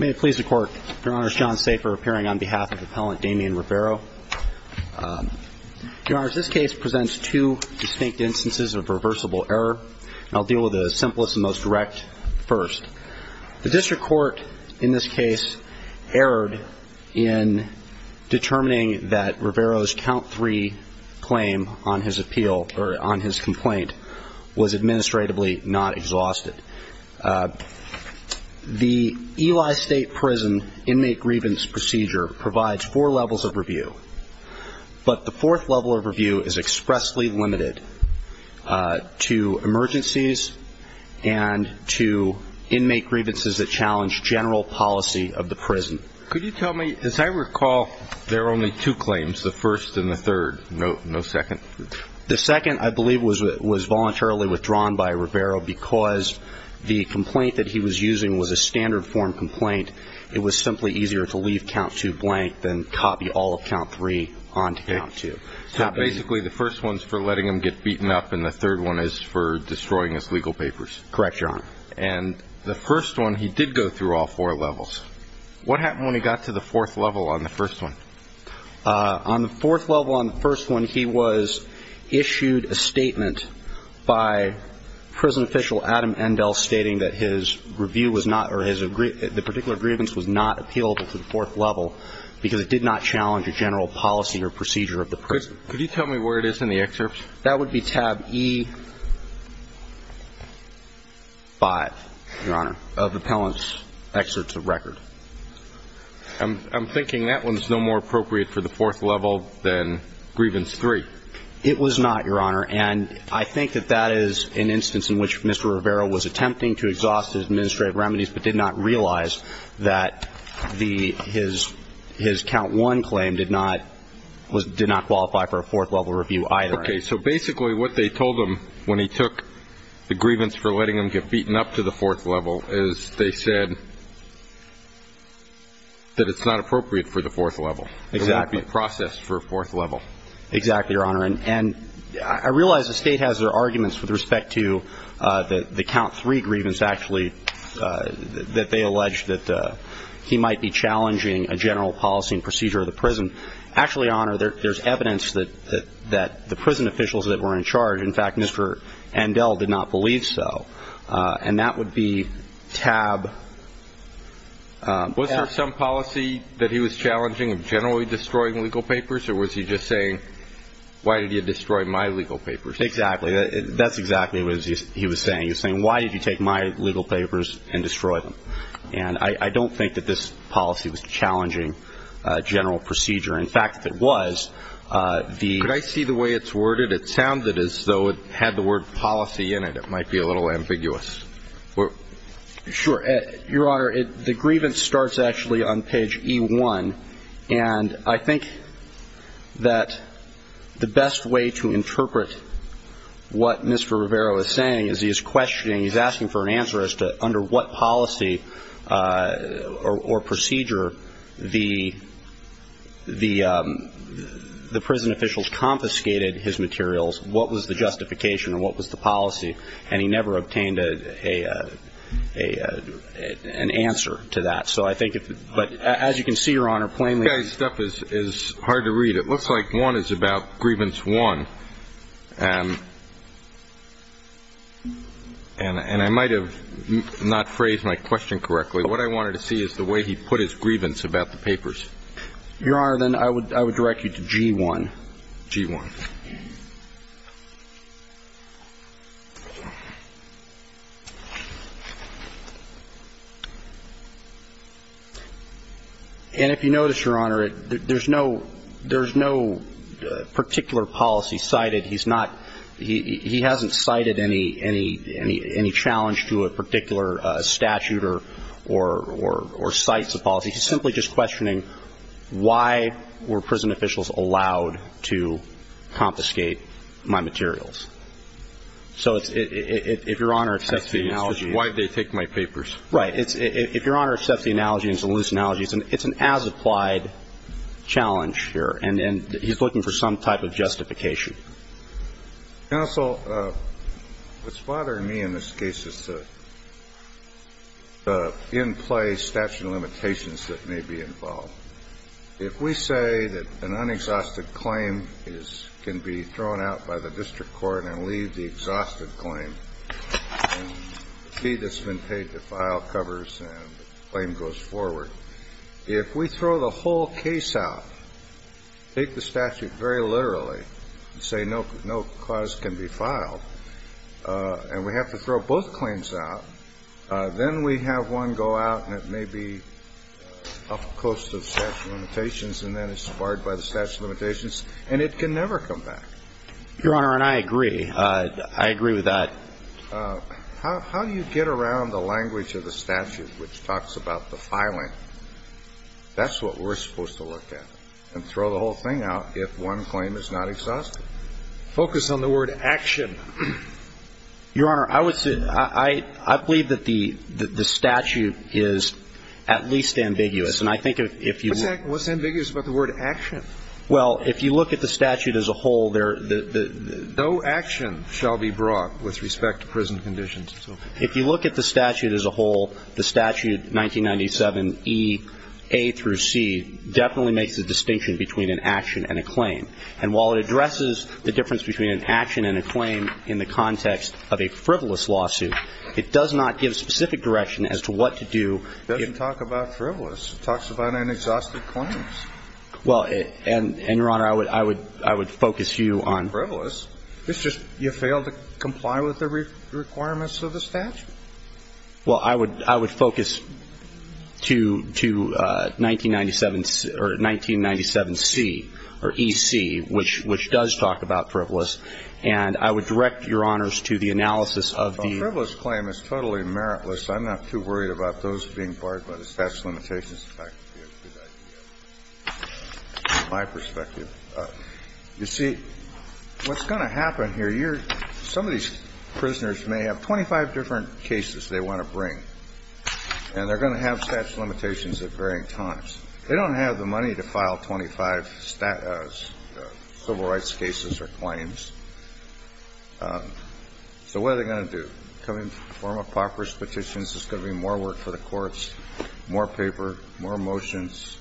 May it please the court. Your Honor, it's John Safer appearing on behalf of Appellant Damian Rivera. Your Honor, this case presents two distinct instances of reversible error. I'll deal with the simplest and most direct first. The district court in this case erred in determining that Rivera's count three claim on his appeal or on his complaint was administratively not exhausted. The Eli State Prison inmate grievance procedure provides four levels of review. But the fourth level of review is expressly limited to emergencies and to inmate grievances that challenge general policy of the prison. Could you tell me, as I recall, there were only two claims, the first and the third. No second? The second, I believe, was voluntarily withdrawn by Rivera because the complaint that he was using was a standard form complaint. It was simply easier to leave count two blank than copy all of count three onto count two. So basically the first one is for letting him get beaten up and the third one is for destroying his legal papers. Correct, Your Honor. And the first one, he did go through all four levels. What happened when he got to the fourth level on the first one? He received a statement by prison official Adam Endell stating that his review was not or the particular grievance was not appealable to the fourth level because it did not challenge a general policy or procedure of the prison. Could you tell me where it is in the excerpt? That would be tab E 5, Your Honor, of the appellant's excerpt to the record. I'm thinking that one's no more appropriate for the fourth level than No, it was not, Your Honor. And I think that that is an instance in which Mr. Rivera was attempting to exhaust his administrative remedies but did not realize that his count one claim did not qualify for a fourth level review either. Okay. So basically what they told him when he took the grievance for letting him get beaten up to the fourth level is they said that it's not appropriate for the fourth level. Exactly. It would not be processed for a fourth level. Exactly, Your Honor. And I realize the state has their arguments with respect to the count three grievance actually that they alleged that he might be challenging a general policy and procedure of the prison. Actually, Your Honor, there's evidence that the prison officials that were in charge, in fact, Mr. Endell did not believe so. And that would be tab Was there some policy that he was challenging of generally destroying legal papers or was he just saying why did you destroy my legal papers? Exactly. That's exactly what he was saying. He was saying why did you take my legal papers and destroy them? And I don't think that this policy was challenging a general procedure. In fact, if it was, the Could I see the way it's worded? It sounded as though it had the word policy in it. It might be a little ambiguous. Sure. Your Honor, the grievance starts actually on page E1 and I think that the best way to interpret what Mr. Rivero is saying is he's questioning, he's asking for an answer as to under what policy or procedure the prison officials confiscated his materials, what was the And he never obtained an answer to that. So I think, but as you can see, Your Honor, plainly This guy's stuff is hard to read. It looks like one is about grievance one. And I might have not phrased my question correctly. What I wanted to see is the way he put his grievance about the papers. Your Honor, then I would direct you to G1. G1. And if you notice, Your Honor, there's no particular policy cited. He's not he hasn't cited any challenge to a particular statute or sites of policy. He's simply just questioning why were prison officials allowed to confiscate my materials. So if Your Honor accepts the analogy. Why did they take my papers? Right. If Your Honor accepts the analogy, it's an as-applied challenge here. And he's looking for some type of justification. Counsel, what's bothering me in this case is the in-play statute of limitations that may be involved. If we say that an exhausted claim can be thrown out by the district court and leave the exhausted claim and the fee that's been paid to file covers and the claim goes forward. If we throw the whole case out, take the statute very literally, and say no cause can be filed, and we have to throw both claims out, then we have one go out and it may be up close to the statute of limitations and then it's barred by the statute of limitations. And we have to look at the statute of limitations and say, well, we can't do that. Your Honor, and I agree. I agree with that. How do you get around the language of the statute which talks about the filing? That's what we're supposed to look at and throw the whole thing out if one claim is not exhausted. Focus on the word action. Your Honor, I would say I believe that the statute as a whole, no action shall be brought with respect to prison conditions. If you look at the statute as a whole, the statute 1997EA through C definitely makes a distinction between an action and a claim. And while it addresses the difference between an action and a claim in the context of a frivolous lawsuit, it does not give specific direction as to what to do. It doesn't talk about frivolous. It talks about an exhausted claim. Well, and, Your Honor, I would focus you on Frivolous? You fail to comply with the requirements of the statute? Well, I would focus to 1997C or EC, which does talk about frivolous. And I would direct Your Honors to the analysis of the Well, frivolous claim is totally meritless. I'm not too worried about those being barred by the statute of limitations. In fact, it would be a good idea, from my perspective. You see, what's going to happen here, some of these prisoners may have 25 different cases they want to bring. And they're going to have statute of limitations at varying times. They don't have the money to file 25 civil rights cases or claims. So what are they going to do? Come in and perform a paupers petition? Is there going to be more work for the more motions?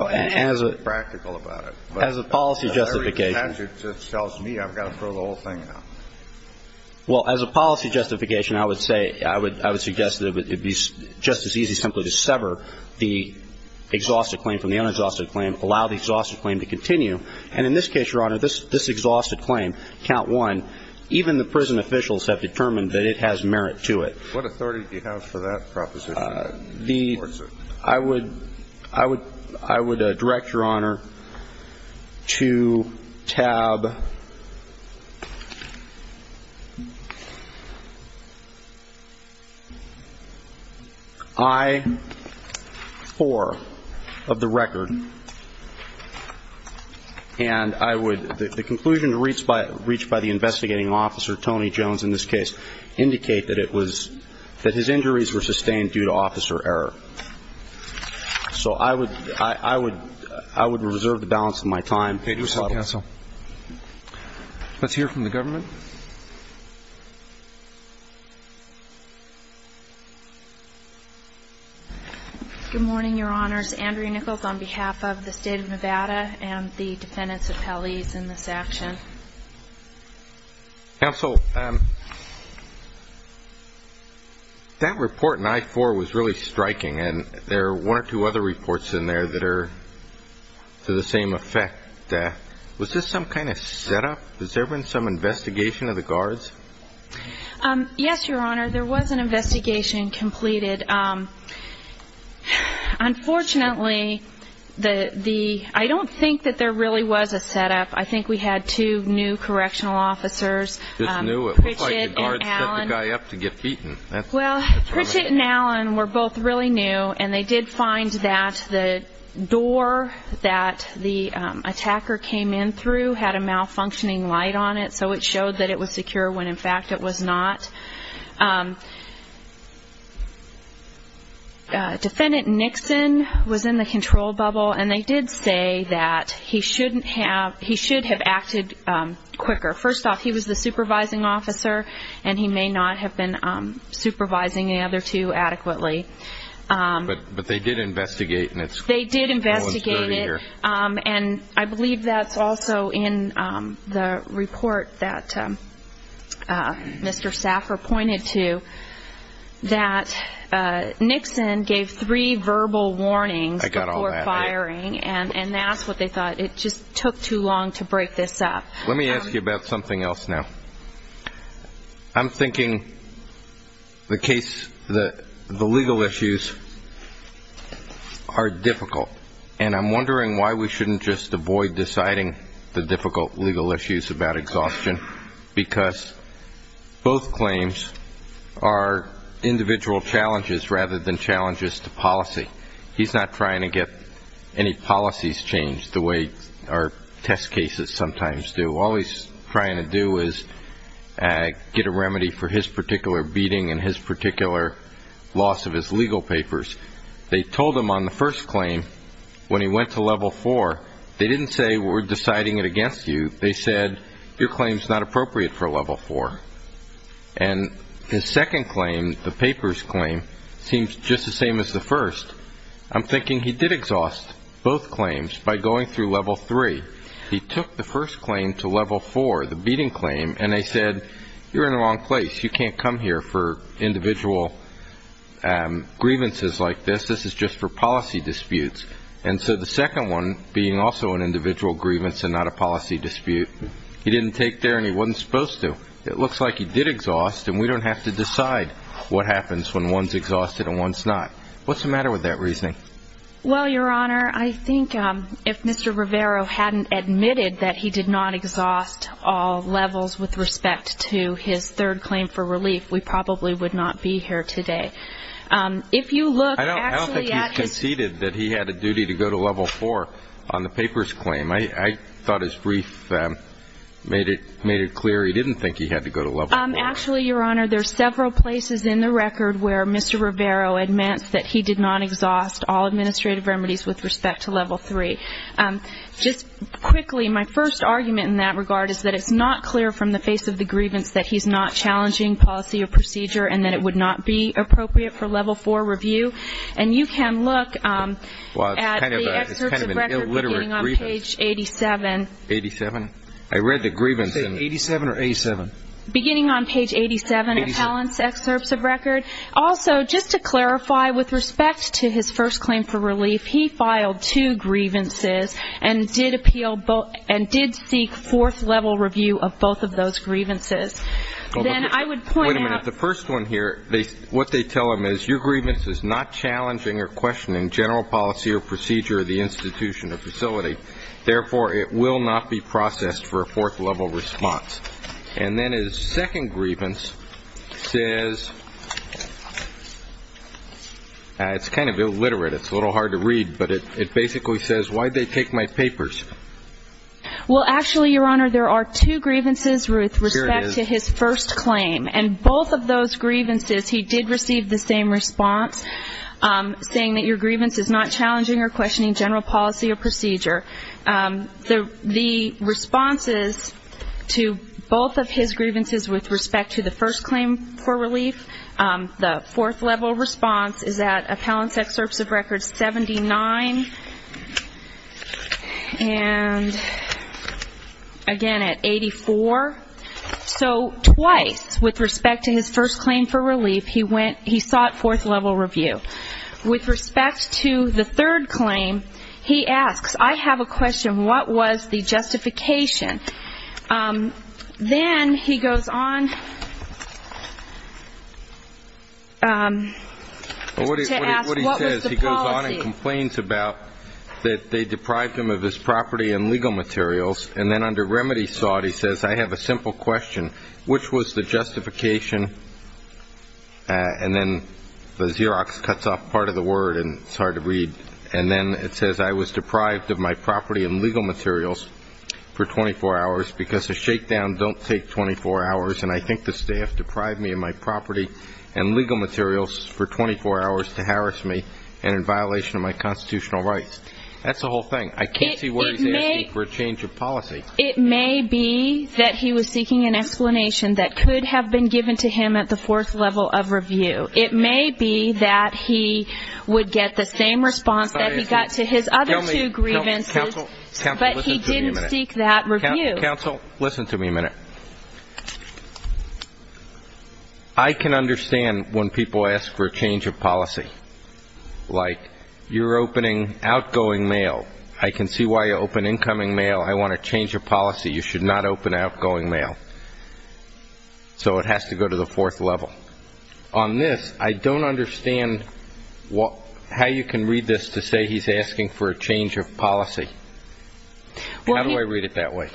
As a policy justification. Well, as a policy justification, I would say, I would suggest that it would be just as easy simply to sever the exhausted claim from the unexhausted claim, allow the exhausted claim to continue. And in this case, Your Honor, this exhausted claim, count one, even the prison officials have determined that it has merit to it. What authority do you have for that proposition? I would direct Your Honor to tab I-4 of the record. And I would the conclusion reached by the investigating officer, Tony Jones in this case, indicate that it was, that his injuries were sustained due to officer error. So I would reserve the balance of my time. Let's hear from the government. Good morning, Your Honors. Andrea Nichols on behalf of the State of Nevada and the defendants' appellees in this action. Counsel, that report in I-4 was really striking, and there are one or two other reports in there that are to the same effect. Was this some kind of setup? Has there been some investigation of the guards? Yes, Your Honor, there was an investigation completed. Unfortunately, I don't think that there really was a setup. I think we had two new correctional officers. Well, Pritchett and Allen were both really new, and they did find that the door that the attacker came in through had a malfunctioning light on it, so it showed that it was secure when in fact it was not. Defendant Nixon was in the control bubble, and they did say that he should have acted quicker. First off, he was the supervising officer, and he may not have been supervising the other two adequately. But they did investigate. They did investigate it, and I believe that's also in the report that Mr. Saffer pointed to, that Nixon gave three verbal warnings before firing, and that's what they did. Let me ask you about something else now. I'm thinking the legal issues are difficult, and I'm wondering why we shouldn't just avoid deciding the difficult legal issues about exhaustion, because both claims are individual challenges rather than challenges to policy. He's not trying to get any policies changed the way our test cases sometimes do. All he's trying to do is get a remedy for his particular beating and his particular loss of his legal papers. They told him on the first claim when he went to level four, they didn't say we're deciding it against you. They said your claim is not appropriate for level four. And his second claim, the papers claim, seems just the same as the first. I'm thinking he did exhaust both claims by going through level three. He took the first claim to level four, the beating claim, and they said you're in the wrong place. You can't come here for individual grievances like this. This is just for policy disputes. And so the second one, being also an individual grievance and not a policy dispute, he didn't take there, and he wasn't supposed to. It looks like he did exhaust, and we don't have to decide what happens when one's exhausted and one's not. What's the matter with that reasoning? Well, Your Honor, I think if Mr. Rivera hadn't admitted that he did not exhaust all levels with respect to his third claim for relief, we probably would not be here today. If you look actually at his... I don't think he's conceded that he had a duty to go to level four on the papers claim. I thought his brief made it clear he didn't think he had to go to level four. Actually, Your Honor, there's several places in the record where Mr. Rivera admits that he did not exhaust all administrative remedies with respect to level three. Just quickly, my first argument in that regard is that it's not clear from the face of the grievance that he's not challenging policy or procedure and that it would not be appropriate for level four review. And you can look at the excerpts of the record beginning on page 87. 87? I read the grievance in... 87 or A7? Beginning on page 87 of Helen's excerpts of record. Also, just to clarify, with respect to his first claim for relief, he filed two grievances and did appeal and did seek fourth level review of both of those grievances. Then I would point out... Wait a minute. The first one here, what they tell him is your grievance is not challenging or questioning general policy or procedure of the institution or facility. Therefore, it will not be in response. And then his second grievance says... It's kind of illiterate. It's a little hard to read, but it basically says, why'd they take my papers? Well, actually, Your Honor, there are two grievances with respect to his first claim. And both of those grievances, he did receive the same response, saying that your grievance is not challenging or questioning general policy or procedure. The responses to both of his grievances with respect to the first claim for relief, the fourth level response is at Appellant's excerpts of record 79 and again at 84. So twice, with respect to his first claim for relief, he sought fourth level review. With respect to the third claim, he asks, I have a question. What was the justification? Then he goes on to ask, what was the policy? He goes on and complains about that they deprived him of his property and legal materials. And then under remedy sought, he says, I have a simple question. Which was the justification? And then the Xerox cuts off part of the word, and it's hard to read. And then it says, I was deprived of my property and legal materials for 24 hours because a shakedown don't take 24 hours. And I think the staff deprived me of my property and legal materials for 24 hours to harass me and in violation of my constitutional rights. That's the whole thing. I can't see where he's asking for a change of policy. It may be that he was seeking an explanation that could have been given to him at the fourth level of review. It may be that he would get the same response that he got to his other two grievances. But he didn't seek that review. Counsel, listen to me a minute. I can understand when people ask for a change of policy. Like, you're opening outgoing mail. I can see why you open incoming mail. I want a change of policy. You should not open outgoing mail. So it has to go to the fourth level. On this, I don't understand how you can read this to say he's asking for a change of policy. How do I read it that way?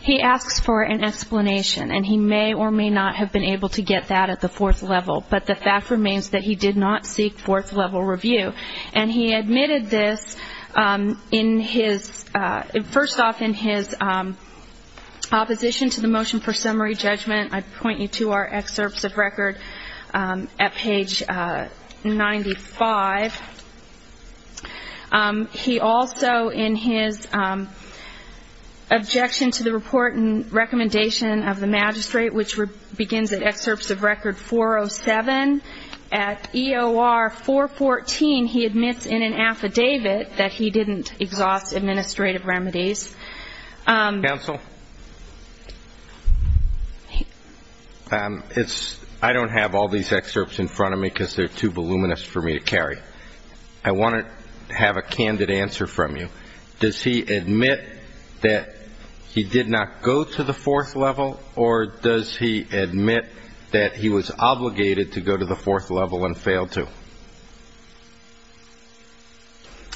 He asks for an explanation. And he may or may not have been able to get that at the fourth level. But the fact remains that he did not seek fourth level review. And he admitted this first off in his opposition to the motion for summary judgment. I point you to our excerpts of record at page 95. He also, in his objection to the report and recommendation of the magistrate, which begins at excerpts of record 407, at EOR 414, he admits in an affidavit that he didn't exhaust administrative remedies. Counsel? I don't have all these excerpts in front of me because they're too voluminous for me to carry. I want to have a candid answer from you. Does he admit that he did not go to the fourth level? Or does he admit that he was obligated to go to the fourth level and failed to?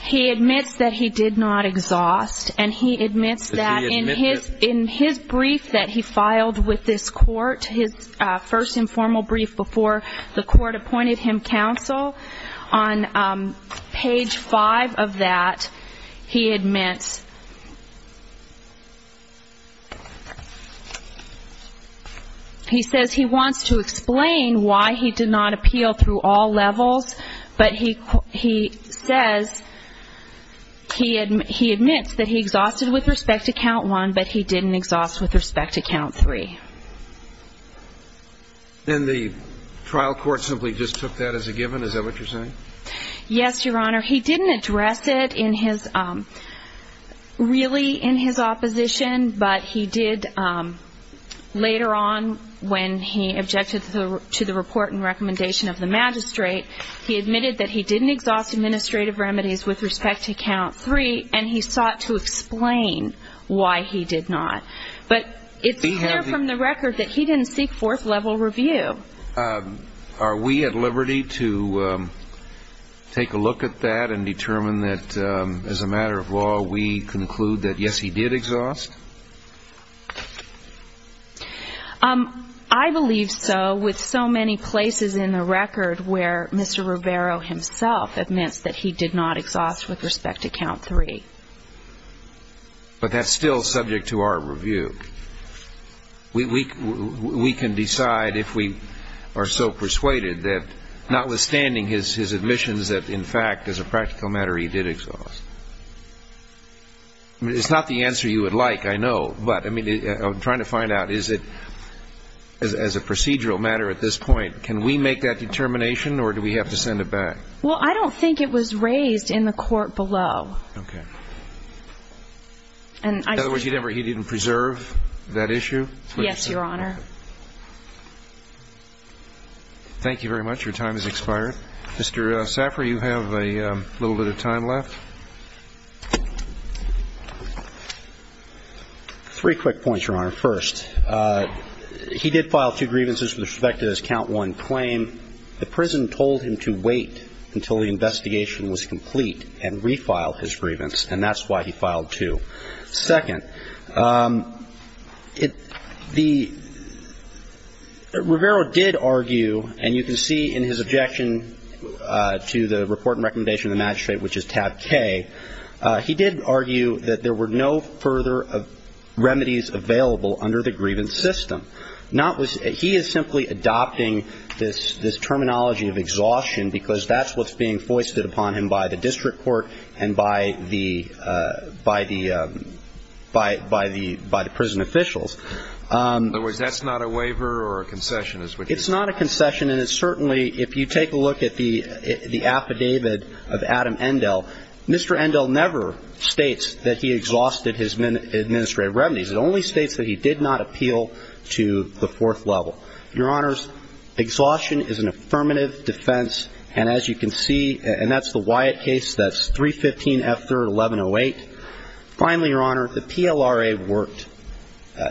He admits that he did not exhaust. And he admits that in his brief that he filed with this court, his first informal brief before the court appointed him counsel, on page 5 of that, he admits he says he wants to explain why he did not appeal through all levels, but he says, he admits that he exhausted with respect to count one, but he didn't exhaust with respect to count three. And the trial court simply just took that as a given? Is that what you're saying? Yes, Your Honor. He didn't address it in his, really in his opposition, but he did later on when he objected to the report and recommendation of the magistrate, he admitted that he didn't exhaust administrative remedies with respect to count three, and he sought to explain why he did not. But it's clear from the record that he didn't seek fourth level review. Are we at liberty to take a look at that and determine that, as a matter of law, we conclude that, yes, he did exhaust? I believe so, with so many places in the record where Mr. Rivero himself admits that he did not exhaust with respect to count three. But that's still subject to our review. We can decide if we are so persuaded that notwithstanding his admissions that, in fact, as a practical matter, he did exhaust. It's not the answer you would like, I know, but I'm trying to find out, is it, as a procedural matter at this point, can we make that determination, or do we have to send it back? Well, I don't think it was raised in the court below. Okay. In other words, he didn't preserve that issue? Yes, Your Honor. Thank you very much. Your time has expired. Mr. Saffer, you have a little bit of time left. Three quick points, Your Honor. First, he did file two grievances with respect to his count one claim. The prison told him to wait until the investigation was complete and refile his grievance, and that's why he filed two. Second, Rivero did argue, and you can see in his objection to the report and recommendation of the magistrate, which is tab K, he did argue that there were no further remedies available under the grievance system. He is simply adopting this terminology of exhaustion because that's what's being foisted upon him by the district court and by the prison officials. In other words, that's not a waiver or a concession? It's not a concession, and it's certainly, if you take a look at the affidavit of Adam Endell, Mr. Endell never states that he exhausted his administrative revenues. It only states that he did not appeal to the fourth level. Your Honor, exhaustion is an affirmative defense, and as you can see, and that's the Wyatt case, that's 315 F. 3rd, 1108. Finally, Your Honor, the PLRA worked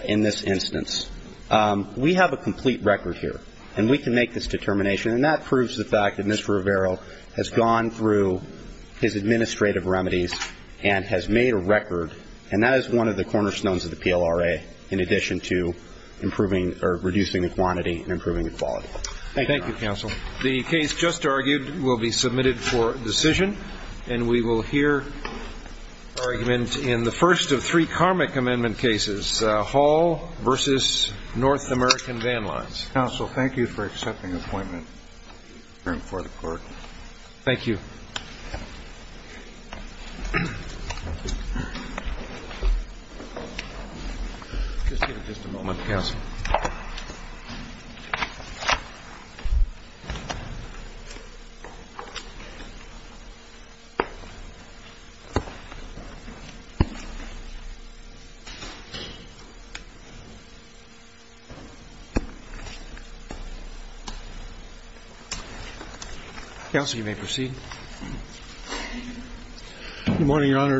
in this instance. We have a complete record here, and we can make this determination, and that proves the fact that Mr. Rivero has gone through his administrative remedies and has made a record, and that is one of the cornerstones of the PLRA in addition to reducing the quantity and improving the quality. Thank you, Your Honor. The case just argued will be submitted for decision, and we will hear argument in the first of three karmic amendment cases, Hall v. North American Van Lines. Counsel, thank you for accepting appointment for the court. Thank you. Just a moment, counsel. Counsel, you may proceed. Good morning, Your Honor.